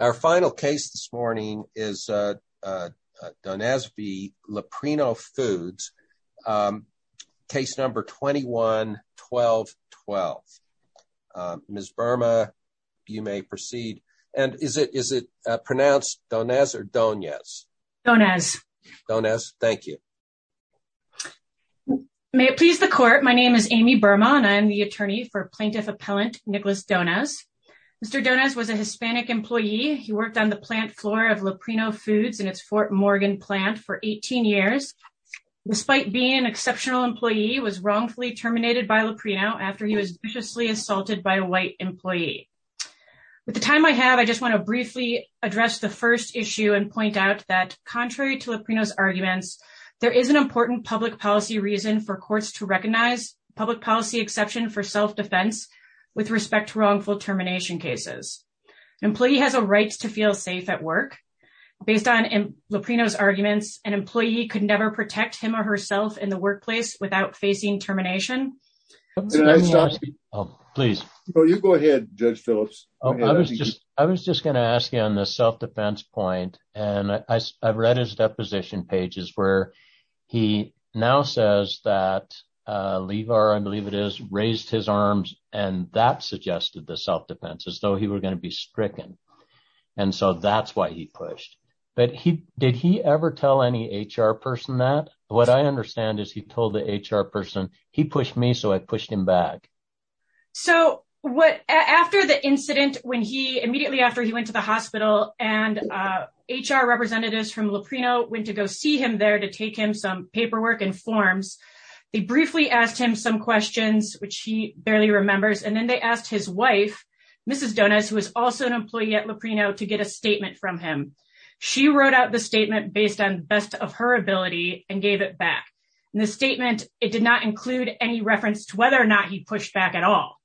Our final case this morning is Donez v. Leprino Foods, case number 21-12-12. Ms. Burma, you may proceed. And is it pronounced Donez or Donez? Donez. Donez, thank you. May it please the court, my name is Amy Burma and I am the attorney for Plaintiff Appellant Nicholas Donez. Mr. Donez was a Hispanic employee. He worked on the plant floor of Leprino Foods in its Fort Morgan plant for 18 years. Despite being an exceptional employee, he was wrongfully terminated by Leprino after he was viciously assaulted by a white employee. With the time I have, I just want to briefly address the first issue and point out that, contrary to Leprino's arguments, there is an important public policy reason for courts to recognize public policy exception for self-defense with respect to wrongful termination cases. An employee has a right to feel safe at work. Based on Leprino's arguments, an employee could never protect him or herself in the workplace without facing termination. Can I stop you? Please. You go ahead, Judge Phillips. I was just going to ask you on the self-defense point. And I read his deposition pages where he now says that Levar, I believe it is, raised his arms and that suggested the self-defense as though he were going to be stricken. And so that's why he pushed. But did he ever tell any HR person that? What I understand is he told the HR person, he pushed me, so I pushed him back. So after the incident, immediately after he went to the hospital and HR representatives from Leprino went to go see him there to take him some paperwork and forms, they briefly asked him some questions, which he barely remembers. And then they asked his wife, Mrs. Donas, who is also an employee at Leprino, to get a statement from him. She wrote out the statement based on the best of her ability and gave it back. In the statement, it did not include any reference to whether or not he pushed back at all.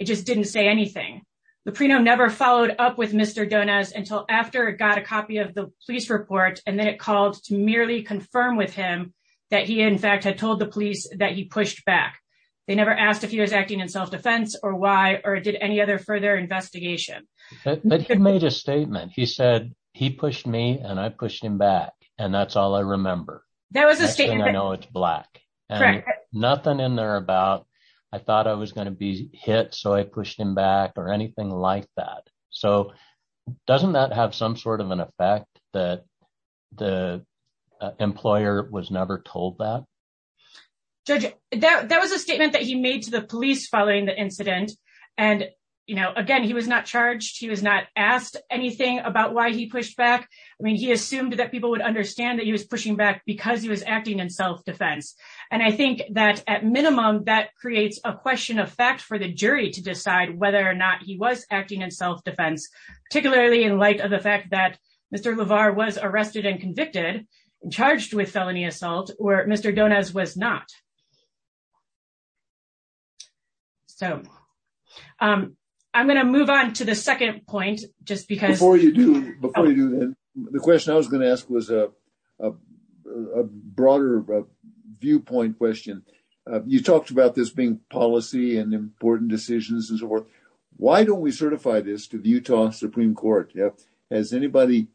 It just didn't say anything. Leprino never followed up with Mr. Donas until after it got a copy of the police report. And then it called to merely confirm with him that he, in fact, had told the police that he pushed back. They never asked if he was acting in self-defense or why or did any other further investigation. But he made a statement. He said he pushed me and I pushed him back. And that's all I remember. That was a statement. I know it's black. Correct. Nothing in there about I thought I was going to be hit, so I pushed him back or anything like that. So doesn't that have some sort of an effect that the employer was never told that? Judge, that was a statement that he made to the police following the incident. And, you know, again, he was not charged. He was not asked anything about why he pushed back. I mean, he assumed that people would understand that he was pushing back because he was acting in self-defense. And I think that at minimum, that creates a question of fact for the jury to decide whether or not he was acting in self-defense, particularly in light of the fact that Mr. LeVar was arrested and convicted and charged with felony assault or Mr. Donas was not. So I'm going to move on to the second point, just because before you do, the question I was going to ask was a broader viewpoint question. You talked about this being policy and important decisions as well. Why don't we certify this to the Utah Supreme Court? Has anybody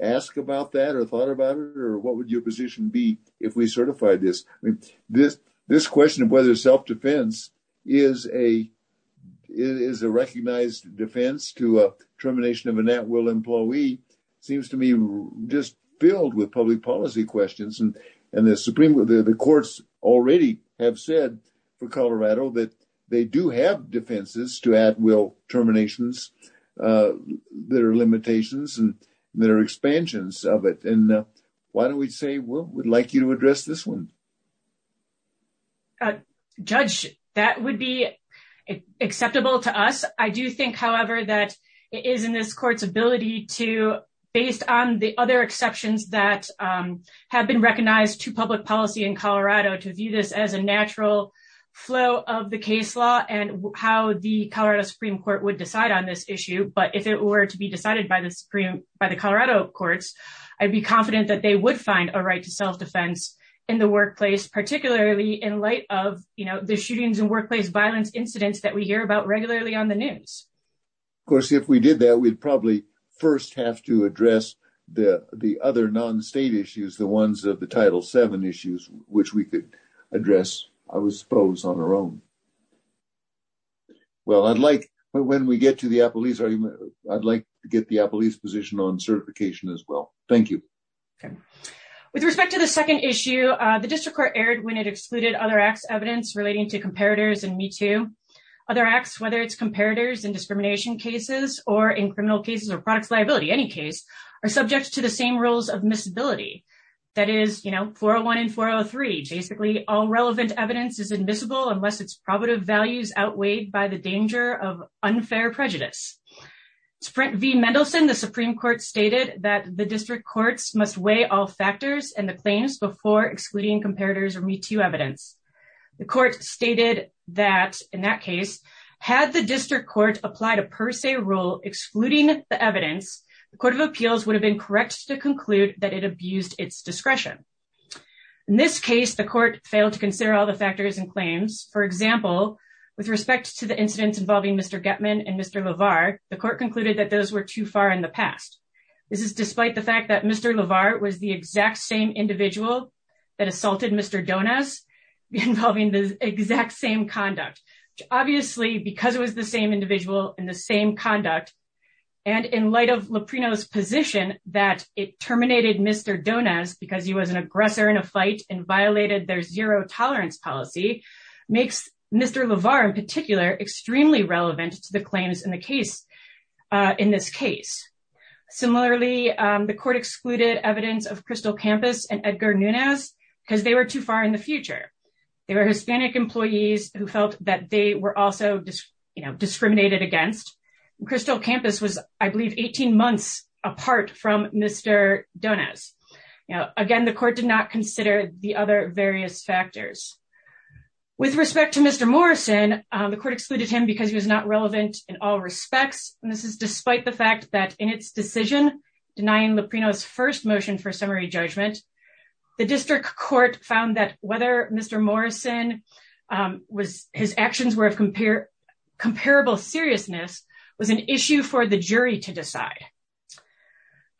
asked about that or thought about it? Or what would your position be if we certified this? This question of whether self-defense is a is a recognized defense to a termination of an at-will employee seems to me just filled with public policy questions. And the Supreme Court, the courts already have said for Colorado that they do have defenses to at-will terminations. There are limitations and there are expansions of it. And why don't we say we would like you to address this one? Judge, that would be acceptable to us. I do think, however, that it is in this court's ability to based on the other exceptions that have been recognized to public policy in Colorado, to view this as a natural flow of the case law and how the Colorado Supreme Court would decide on this issue. But if it were to be decided by the Supreme by the Colorado courts, I'd be confident that they would find a right to self-defense in the workplace, particularly in light of the shootings and workplace violence incidents that we hear about regularly on the news. Of course, if we did that, we'd probably first have to address the other non-state issues, the ones of the Title seven issues, which we could address, I suppose, on our own. Well, I'd like when we get to the police, I'd like to get the police position on certification as well. Thank you. With respect to the second issue, the district court aired when it excluded other acts, evidence relating to comparators and me to other acts, whether it's comparators and discrimination cases or in criminal cases or products, liability, any case are subject to the same rules of miscibility. That is, you know, 401 and 403. Basically, all relevant evidence is admissible unless it's probative values outweighed by the danger of unfair prejudice. Sprint V Mendelsohn, the Supreme Court stated that the district courts must weigh all factors and the claims before excluding comparators or me to evidence. The court stated that in that case, had the district court applied a per se rule excluding the evidence, the Court of Appeals would have been correct to conclude that it abused its discretion. In this case, the court failed to consider all the factors and claims. For example, with respect to the incidents involving Mr. Getman and Mr. LeVar, the court concluded that those were too far in the past. This is despite the fact that Mr. LeVar was the exact same individual that assaulted Mr. Donas involving the exact same conduct. Obviously, because it was the same individual in the same conduct. And in light of Loprino's position that it terminated Mr. Donas because he was an aggressor in a fight and violated their zero tolerance policy makes Mr. LeVar in particular extremely relevant to the claims in the case. In this case. Similarly, the court excluded evidence of Crystal Campus and Edgar Nunez because they were too far in the future. They were Hispanic employees who felt that they were also discriminated against. Crystal Campus was, I believe, 18 months apart from Mr. Donas. Now, again, the court did not consider the other various factors. With respect to Mr. Morrison, the court excluded him because he was not relevant in all respects. And this is despite the fact that in its decision denying Loprino's first motion for summary judgment, the district court found that whether Mr. Morrison was his actions were of compare comparable seriousness was an issue for the jury to decide.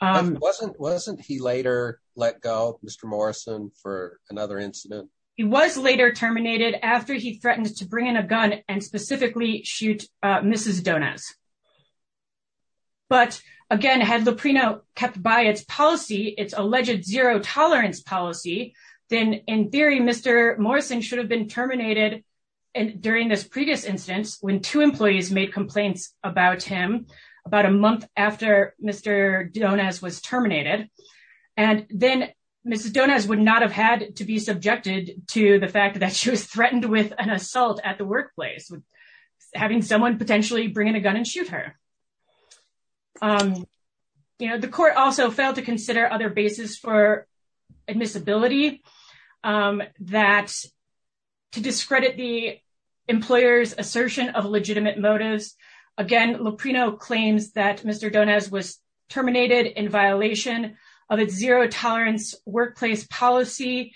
Wasn't wasn't he later let go Mr. Morrison for another incident? He was later terminated after he threatened to bring in a gun and specifically shoot Mrs. Donas. But again, had Loprino kept by its policy, its alleged zero tolerance policy, then in theory, Mr. Morrison should have been terminated. And during this previous instance, when two employees made complaints about him, about a month after Mr. Donas was terminated. And then Mrs. Donas would not have had to be subjected to the fact that she was threatened with an assault at the workplace. Having someone potentially bring in a gun and shoot her. You know, the court also failed to consider other basis for admissibility that to discredit the employer's assertion of legitimate motives. Again, Loprino claims that Mr. Donas was terminated in violation of its zero tolerance workplace policy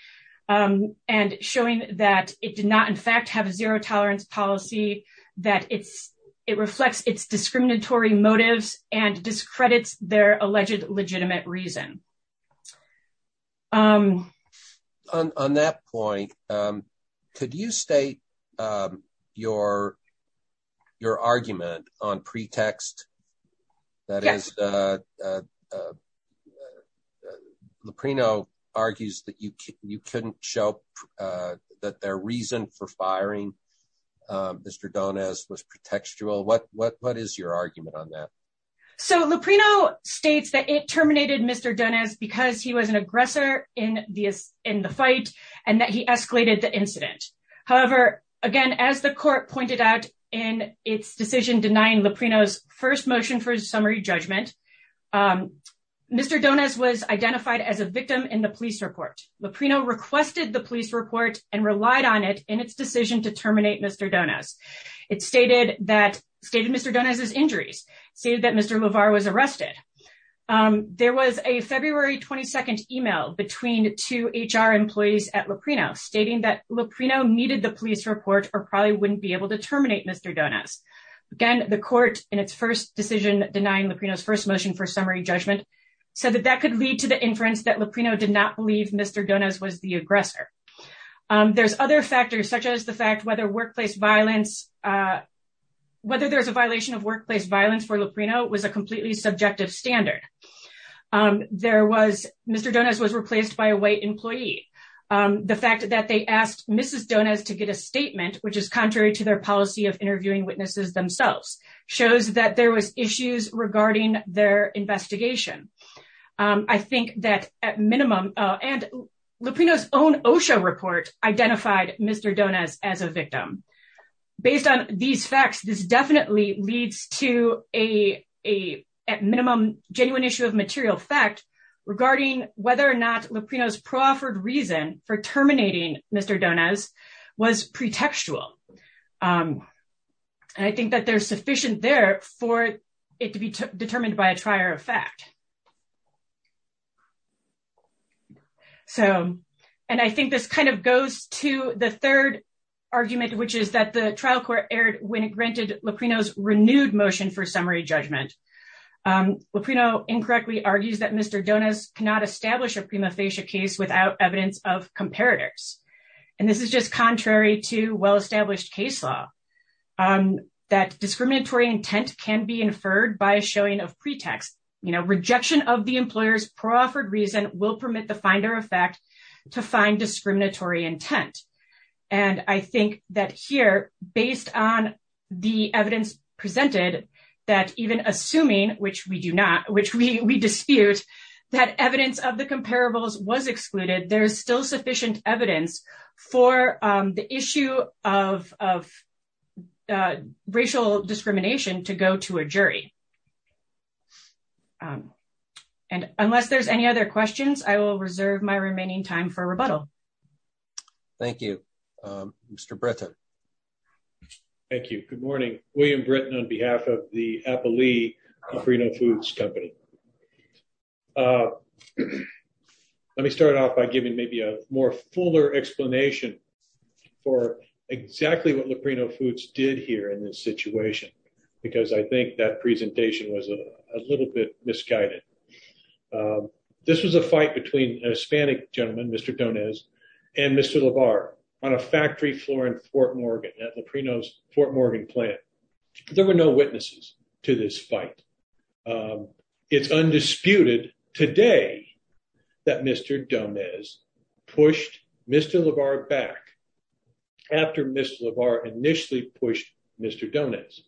and showing that it did not, in fact, have a zero tolerance policy, that it's it reflects its discriminatory motives and discredits their alleged legitimate reason. I'm on that point. Could you state your your argument on pretext? That is, Loprino argues that you you couldn't show that their reason for firing Mr. Donas was pretextual. What what what is your argument on that? So Loprino states that it terminated Mr. Donas because he was an aggressor in this in the fight and that he escalated the incident. However, again, as the court pointed out in its decision denying Loprino's first motion for summary judgment. Mr. Donas was identified as a victim in the police report. Loprino requested the police report and relied on it in its decision to terminate Mr. Donas. It stated that stated Mr. Donas's injuries, stated that Mr. LeVar was arrested. There was a February 22nd email between two HR employees at Loprino stating that Loprino needed the police report or probably wouldn't be able to terminate Mr. Donas. Again, the court in its first decision denying Loprino's first motion for summary judgment so that that could lead to the inference that Loprino did not believe Mr. Donas was the aggressor. There's other factors such as the fact whether workplace violence, whether there's a violation of workplace violence for Loprino was a completely subjective standard. There was Mr. Donas was replaced by a white employee. The fact that they asked Mrs. Donas to get a statement, which is contrary to their policy of interviewing witnesses themselves, shows that there was issues regarding their investigation. I think that at minimum, and Loprino's own OSHA report identified Mr. Donas as a victim. Based on these facts, this definitely leads to a minimum genuine issue of material fact regarding whether or not Loprino's proffered reason for terminating Mr. Donas was pretextual. I think that there's sufficient there for it to be determined by a trier of fact. So, and I think this kind of goes to the third argument, which is that the trial court erred when it granted Loprino's renewed motion for summary judgment. Loprino incorrectly argues that Mr. Donas cannot establish a prima facie case without evidence of comparators. And this is just contrary to well-established case law, that discriminatory intent can be inferred by a showing of pretext. Rejection of the employer's proffered reason will permit the finder of fact to find discriminatory intent. And I think that here, based on the evidence presented, that even assuming, which we do not, which we dispute, that evidence of the comparables was excluded, there's still sufficient evidence for the issue of racial discrimination to go to a jury. And unless there's any other questions, I will reserve my remaining time for rebuttal. Thank you, Mr. Britton. Thank you. Good morning. William Britton on behalf of the Appalee Loprino Foods Company. Let me start off by giving maybe a more fuller explanation for exactly what Loprino Foods did here in this situation, because I think that presentation was a little bit misguided. This was a fight between a Hispanic gentleman, Mr. Donas, and Mr. LaVar on a factory floor in Fort Morgan at Loprino's Fort Morgan plant. There were no witnesses to this fight. It's undisputed today that Mr. Donas pushed Mr. LaVar back after Mr. LaVar initially pushed Mr. Donas.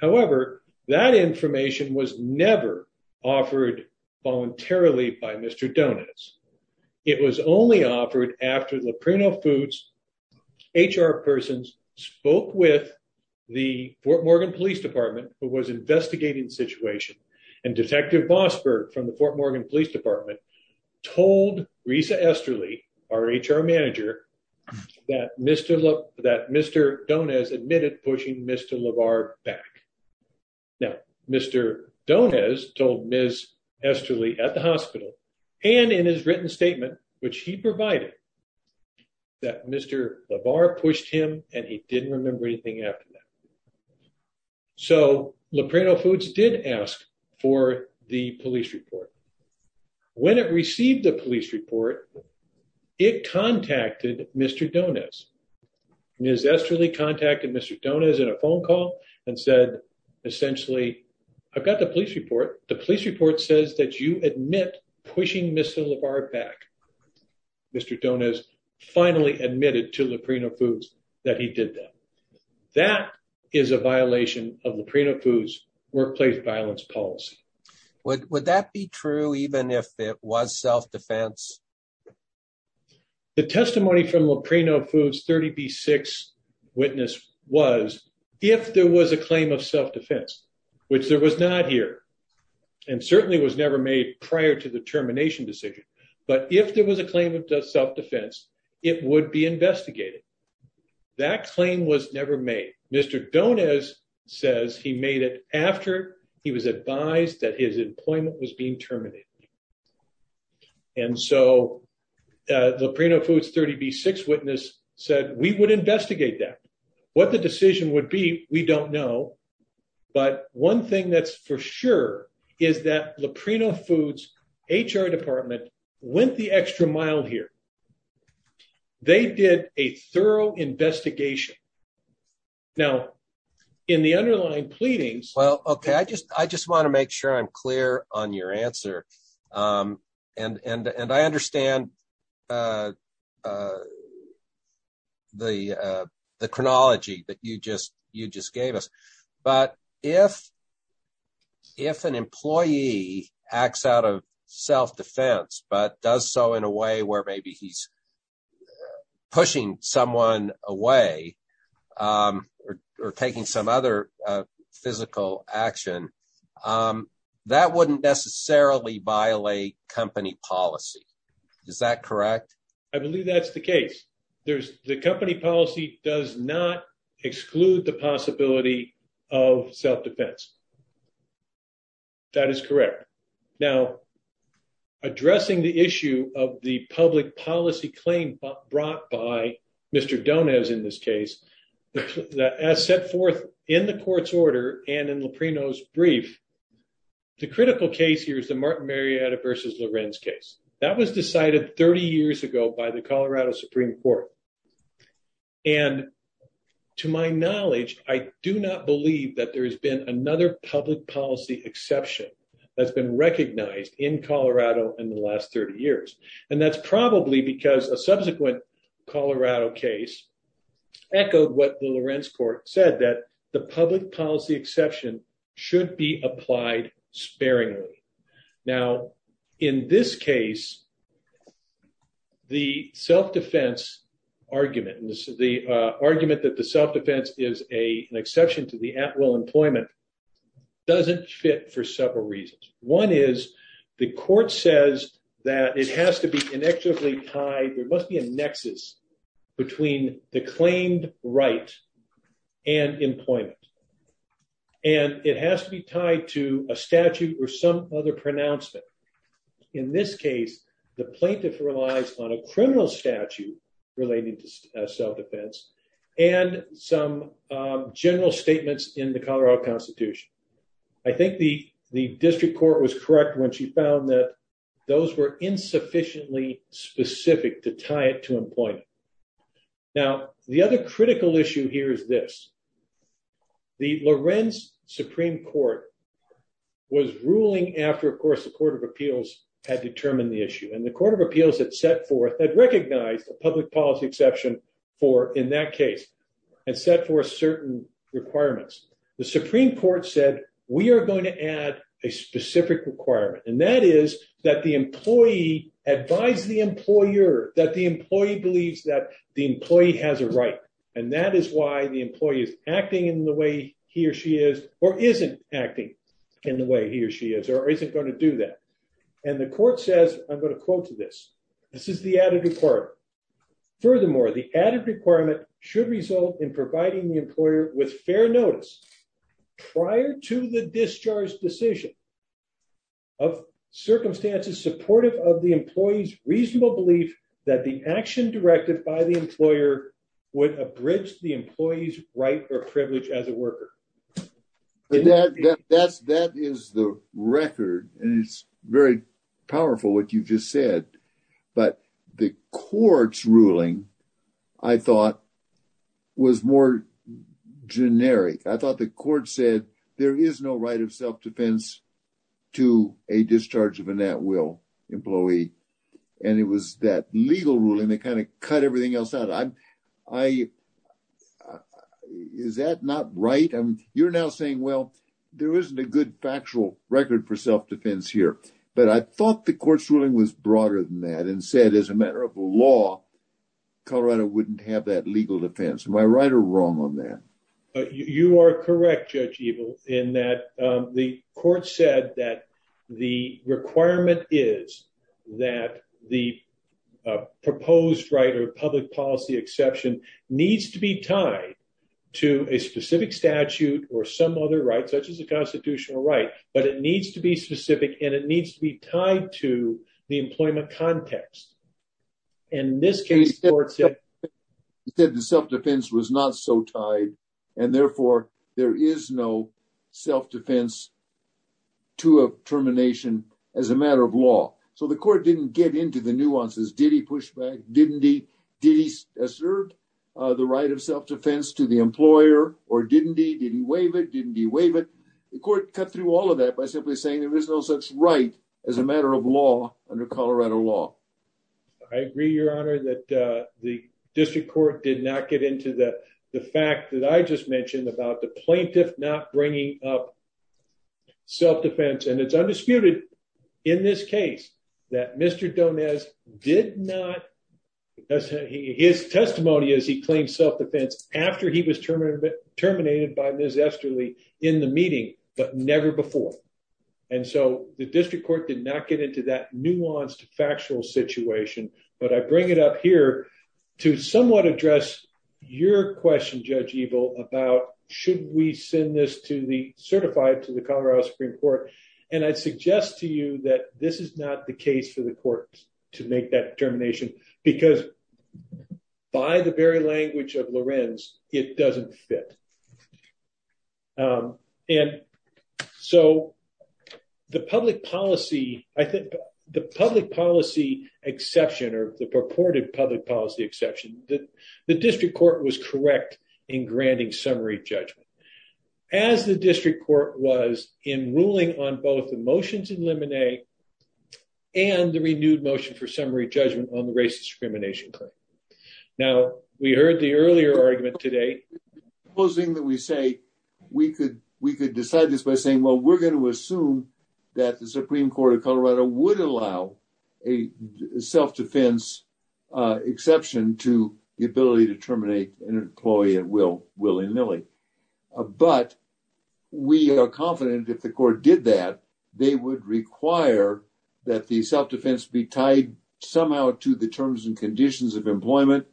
However, that information was never offered voluntarily by Mr. Donas. It was only offered after Loprino Foods HR persons spoke with the Fort Morgan Police Department who was investigating the situation. And Detective Bosberg from the Fort Morgan Police Department told Risa Esterly, our HR manager, that Mr. Donas admitted pushing Mr. LaVar back. Now, Mr. Donas told Ms. Esterly at the hospital and in his written statement, which he provided, that Mr. LaVar pushed him and he didn't remember anything after that. So Loprino Foods did ask for the police report. When it received the police report, it contacted Mr. Donas. Ms. Esterly contacted Mr. Donas in a phone call and said, essentially, I've got the police report. The police report says that you admit pushing Mr. LaVar back. Mr. Donas finally admitted to Loprino Foods that he did that. That is a violation of Loprino Foods workplace violence policy. Would that be true even if it was self-defense? The testimony from Loprino Foods 30B6 witness was if there was a claim of self-defense, which there was not here and certainly was never made prior to the termination decision. But if there was a claim of self-defense, it would be investigated. That claim was never made. Mr. Donas says he made it after he was advised that his employment was being terminated. And so Loprino Foods 30B6 witness said we would investigate that. What the decision would be, we don't know. But one thing that's for sure is that Loprino Foods HR department went the extra mile here. They did a thorough investigation. Now, in the underlying pleadings. Well, OK, I just I just want to make sure I'm clear on your answer. And and I understand. The the chronology that you just you just gave us. But if. If an employee acts out of self-defense, but does so in a way where maybe he's pushing someone away or taking some other physical action, that wouldn't necessarily violate company policy. Is that correct? I believe that's the case. There's the company policy does not exclude the possibility of self-defense. That is correct. Now, addressing the issue of the public policy claim brought by Mr. As set forth in the court's order and in Loprino's brief. The critical case here is the Martin Marietta versus Lorenz case that was decided 30 years ago by the Colorado Supreme Court. And to my knowledge, I do not believe that there has been another public policy exception that's been recognized in Colorado in the last 30 years. And that's probably because a subsequent Colorado case echoed what the Lorenz court said, that the public policy exception should be applied sparingly. Now, in this case, the self-defense argument and the argument that the self-defense is a an exception to the at will employment doesn't fit for several reasons. One is the court says that it has to be inextricably tied. There must be a nexus between the claimed right and employment. And it has to be tied to a statute or some other pronouncement. In this case, the plaintiff relies on a criminal statute relating to self-defense and some general statements in the Colorado Constitution. I think the district court was correct when she found that those were insufficiently specific to tie it to employment. Now, the other critical issue here is this. The Lorenz Supreme Court was ruling after, of course, the Court of Appeals had determined the issue. And the Court of Appeals had set forth, had recognized a public policy exception for in that case and set forth certain requirements. The Supreme Court said, we are going to add a specific requirement. And that is that the employee advise the employer that the employee believes that the employee has a right. And that is why the employee is acting in the way he or she is or isn't acting in the way he or she is or isn't going to do that. And the court says, I'm going to quote to this. This is the added requirement. Furthermore, the added requirement should result in providing the employer with fair notice prior to the discharge decision. Of circumstances supportive of the employee's reasonable belief that the action directed by the employer would abridge the employee's right or privilege as a worker. And that's that is the record. And it's very powerful what you just said. But the court's ruling, I thought, was more generic. I thought the court said there is no right of self-defense to a discharge of a net will employee. And it was that legal ruling that kind of cut everything else out. Is that not right? You're now saying, well, there isn't a good factual record for self-defense here. But I thought the court's ruling was broader than that and said, as a matter of law, Colorado wouldn't have that legal defense. Am I right or wrong on that? You are correct, Judge Evil, in that the court said that the requirement is that the proposed right or public policy exception needs to be tied to a specific statute or some other right, such as a constitutional right. But it needs to be specific and it needs to be tied to the employment context. And in this case, the self-defense was not so tied, and therefore there is no self-defense to a termination as a matter of law. So the court didn't get into the nuances. Did he push back? Didn't he? Did he assert the right of self-defense to the employer or didn't he? Did he waive it? Didn't he waive it? The court cut through all of that by simply saying there is no such right as a matter of law under Colorado law. I agree, Your Honor, that the district court did not get into the fact that I just mentioned about the plaintiff not bringing up self-defense. And it's undisputed in this case that Mr. Donez did not. His testimony is he claimed self-defense after he was terminated by Ms. Esterly in the meeting, but never before. And so the district court did not get into that nuanced factual situation. But I bring it up here to somewhat address your question, Judge Ebel, about should we send this to the certified to the Colorado Supreme Court? And I suggest to you that this is not the case for the court to make that determination, because by the very language of Lorenz, it doesn't fit. And so the public policy, I think the public policy exception or the purported public policy exception that the district court was correct in granting summary judgment. As the district court was in ruling on both the motions in limine and the renewed motion for summary judgment on the racist discrimination claim. Now, we heard the earlier argument today. Supposing that we say we could we could decide this by saying, well, we're going to assume that the Supreme Court of Colorado would allow a self-defense exception to the ability to terminate an employee at will, willy nilly. But we are confident if the court did that, they would require that the self-defense be tied somehow to the terms and conditions of employment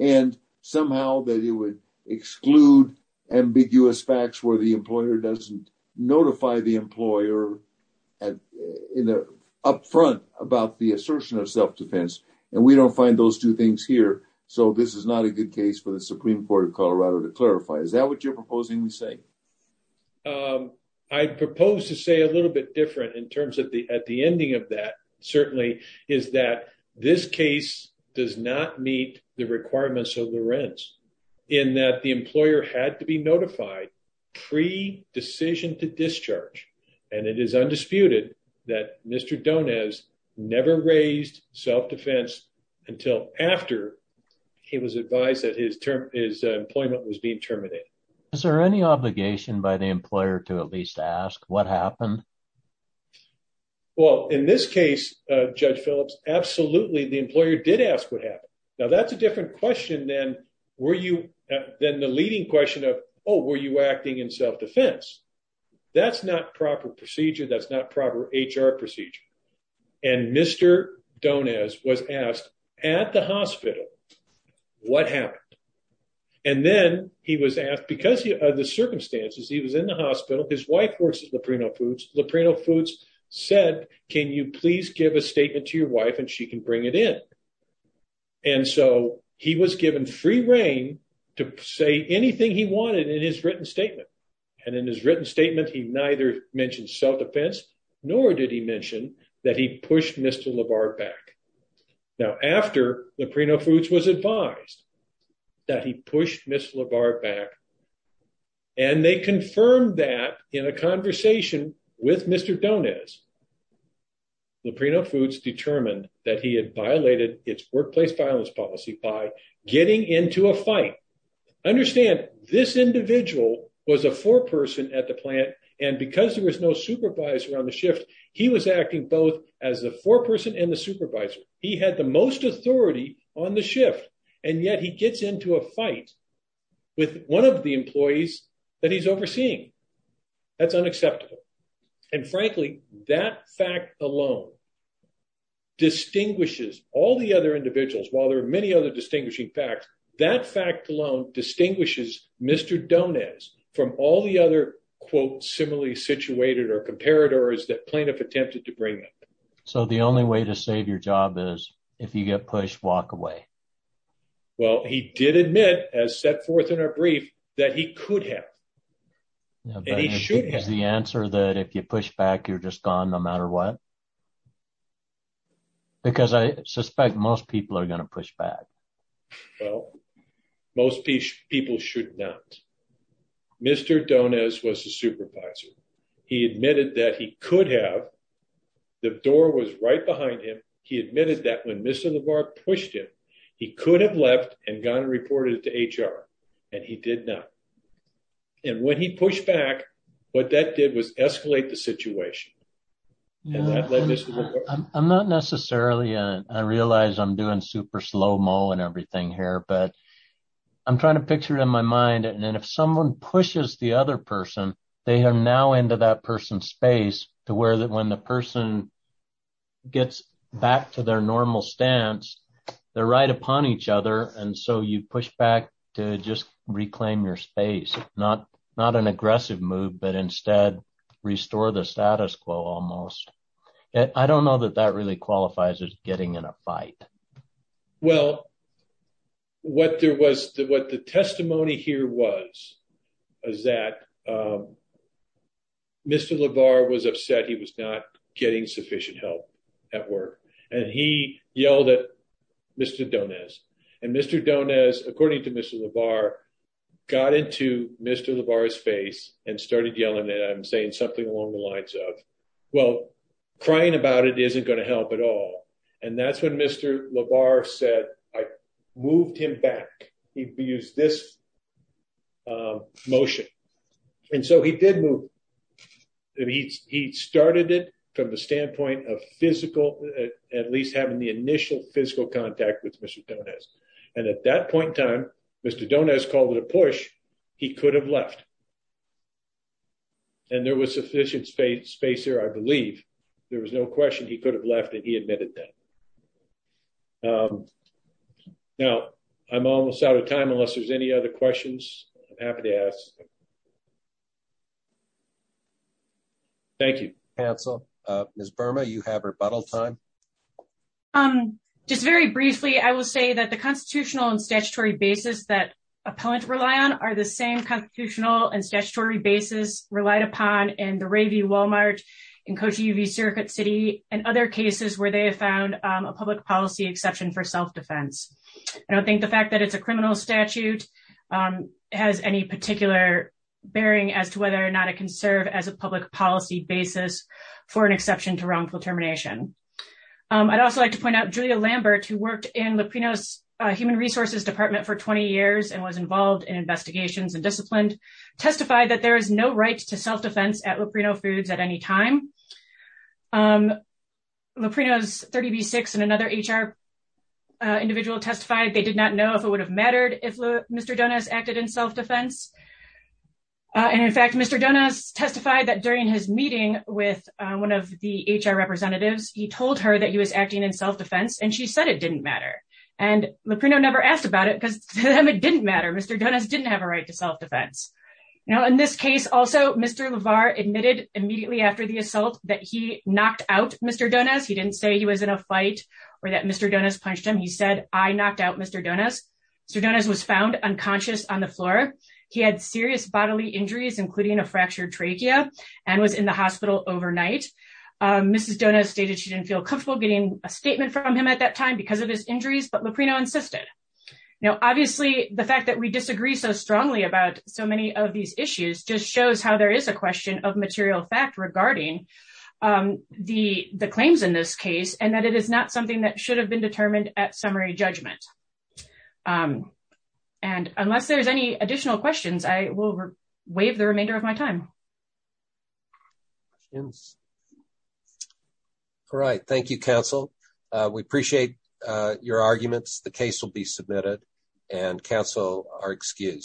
and somehow that it would exclude ambiguous facts where the employer doesn't notify the employer up front about the assertion of self-defense. And we don't find those two things here. So this is not a good case for the Supreme Court of Colorado to clarify. Is that what you're proposing to say? I propose to say a little bit different in terms of the at the ending of that certainly is that this case does not meet the requirements of the rents in that the employer had to be notified pre decision to discharge. And it is undisputed that Mr. Don has never raised self-defense until after he was advised that his term is employment was being terminated. Is there any obligation by the employer to at least ask what happened? Well, in this case, Judge Phillips, absolutely. The employer did ask what happened. Now, that's a different question. Then were you then the leading question of, oh, were you acting in self-defense? That's not proper procedure. That's not proper HR procedure. And Mr. Don is was asked at the hospital. What happened? And then he was asked because of the circumstances, he was in the hospital. His wife works at Laprino Foods. Laprino Foods said, can you please give a statement to your wife and she can bring it in? And so he was given free reign to say anything he wanted in his written statement. And in his written statement, he neither mentioned self-defense, nor did he mention that he pushed Mr. LaVar back. Now, after Laprino Foods was advised that he pushed Mr. LaVar back and they confirmed that in a conversation with Mr. Don is. Laprino Foods determined that he had violated its workplace violence policy by getting into a fight. Understand this individual was a foreperson at the plant, and because there was no supervisor on the shift, he was acting both as the foreperson and the supervisor. He had the most authority on the shift, and yet he gets into a fight with one of the employees that he's overseeing. That's unacceptable. And frankly, that fact alone distinguishes all the other individuals. While there are many other distinguishing facts, that fact alone distinguishes Mr. Don is from all the other, quote, similarly situated or comparators that plaintiff attempted to bring up. So the only way to save your job is if you get pushed, walk away. Well, he did admit as set forth in our brief that he could have. And he should have the answer that if you push back, you're just gone no matter what. Because I suspect most people are going to push back. Well, most people should not. Mr. Don is was a supervisor. He admitted that he could have. The door was right behind him. He admitted that when Mr. Lamar pushed him, he could have left and gotten reported to HR, and he did not. And when he pushed back, what that did was escalate the situation. I'm not necessarily I realize I'm doing super slow mo and everything here, but I'm trying to picture it in my mind. And if someone pushes the other person, they are now into that person's space to where that when the person gets back to their normal stance, they're right upon each other. And so you push back to just reclaim your space, not not an aggressive move, but instead restore the status quo almost. And I don't know that that really qualifies as getting in a fight. Well. What there was what the testimony here was, is that. Mr. LeVar was upset he was not getting sufficient help at work, and he yelled at Mr. And Mr. Don is, according to Mr. LeVar, got into Mr. LeVar's face and started yelling that I'm saying something along the lines of, well, crying about it isn't going to help at all. And that's when Mr. LeVar said I moved him back. He used this motion. And so he did move. He started it from the standpoint of physical, at least having the initial physical contact with Mr. And at that point in time, Mr. Don has called it a push. He could have left. And there was sufficient space space here I believe there was no question he could have left and he admitted that. Now, I'm almost out of time unless there's any other questions. I'm happy to ask. Thank you. Council. Ms. Burma, you have rebuttal time. Um, just very briefly, I will say that the constitutional and statutory basis that appellant rely on are the same constitutional and statutory basis relied upon and the review Walmart and coach UV circuit city and other cases where they have found a public policy exception for self defense. I don't think the fact that it's a criminal statute has any particular bearing as to whether or not it can serve as a public policy basis for an exception to wrongful termination. I'd also like to point out Julia Lambert who worked in the Pinos human resources department for 20 years and was involved in investigations and disciplined testified that there is no right to self defense at Latino foods at any time. The Pinos 30 v six and another HR individual testified they did not know if it would have mattered if Mr Jonas acted in self defense. And in fact Mr Jonas testified that during his meeting with one of the HR representatives, he told her that he was acting in self defense and she said it didn't matter. And the Pino never asked about it because it didn't matter Mr Jonas didn't have a right to self defense. Now in this case also Mr LeVar admitted immediately after the assault that he knocked out Mr Jonas he didn't say he was in a fight, or that Mr Jonas punched him he said I knocked out Mr Jonas. So Jonas was found unconscious on the floor. He had serious bodily injuries including a fractured trachea, and was in the hospital overnight. Mrs Jonas stated she didn't feel comfortable getting a statement from him at that time because of his injuries but the Pino insisted. Now, obviously, the fact that we disagree so strongly about so many of these issues just shows how there is a question of material fact regarding the, the claims in this case and that it is not something that should have been determined at summary judgment. And unless there's any additional questions I will waive the remainder of my time. Right. Thank you, counsel. We appreciate your arguments the case will be submitted and counsel are excused.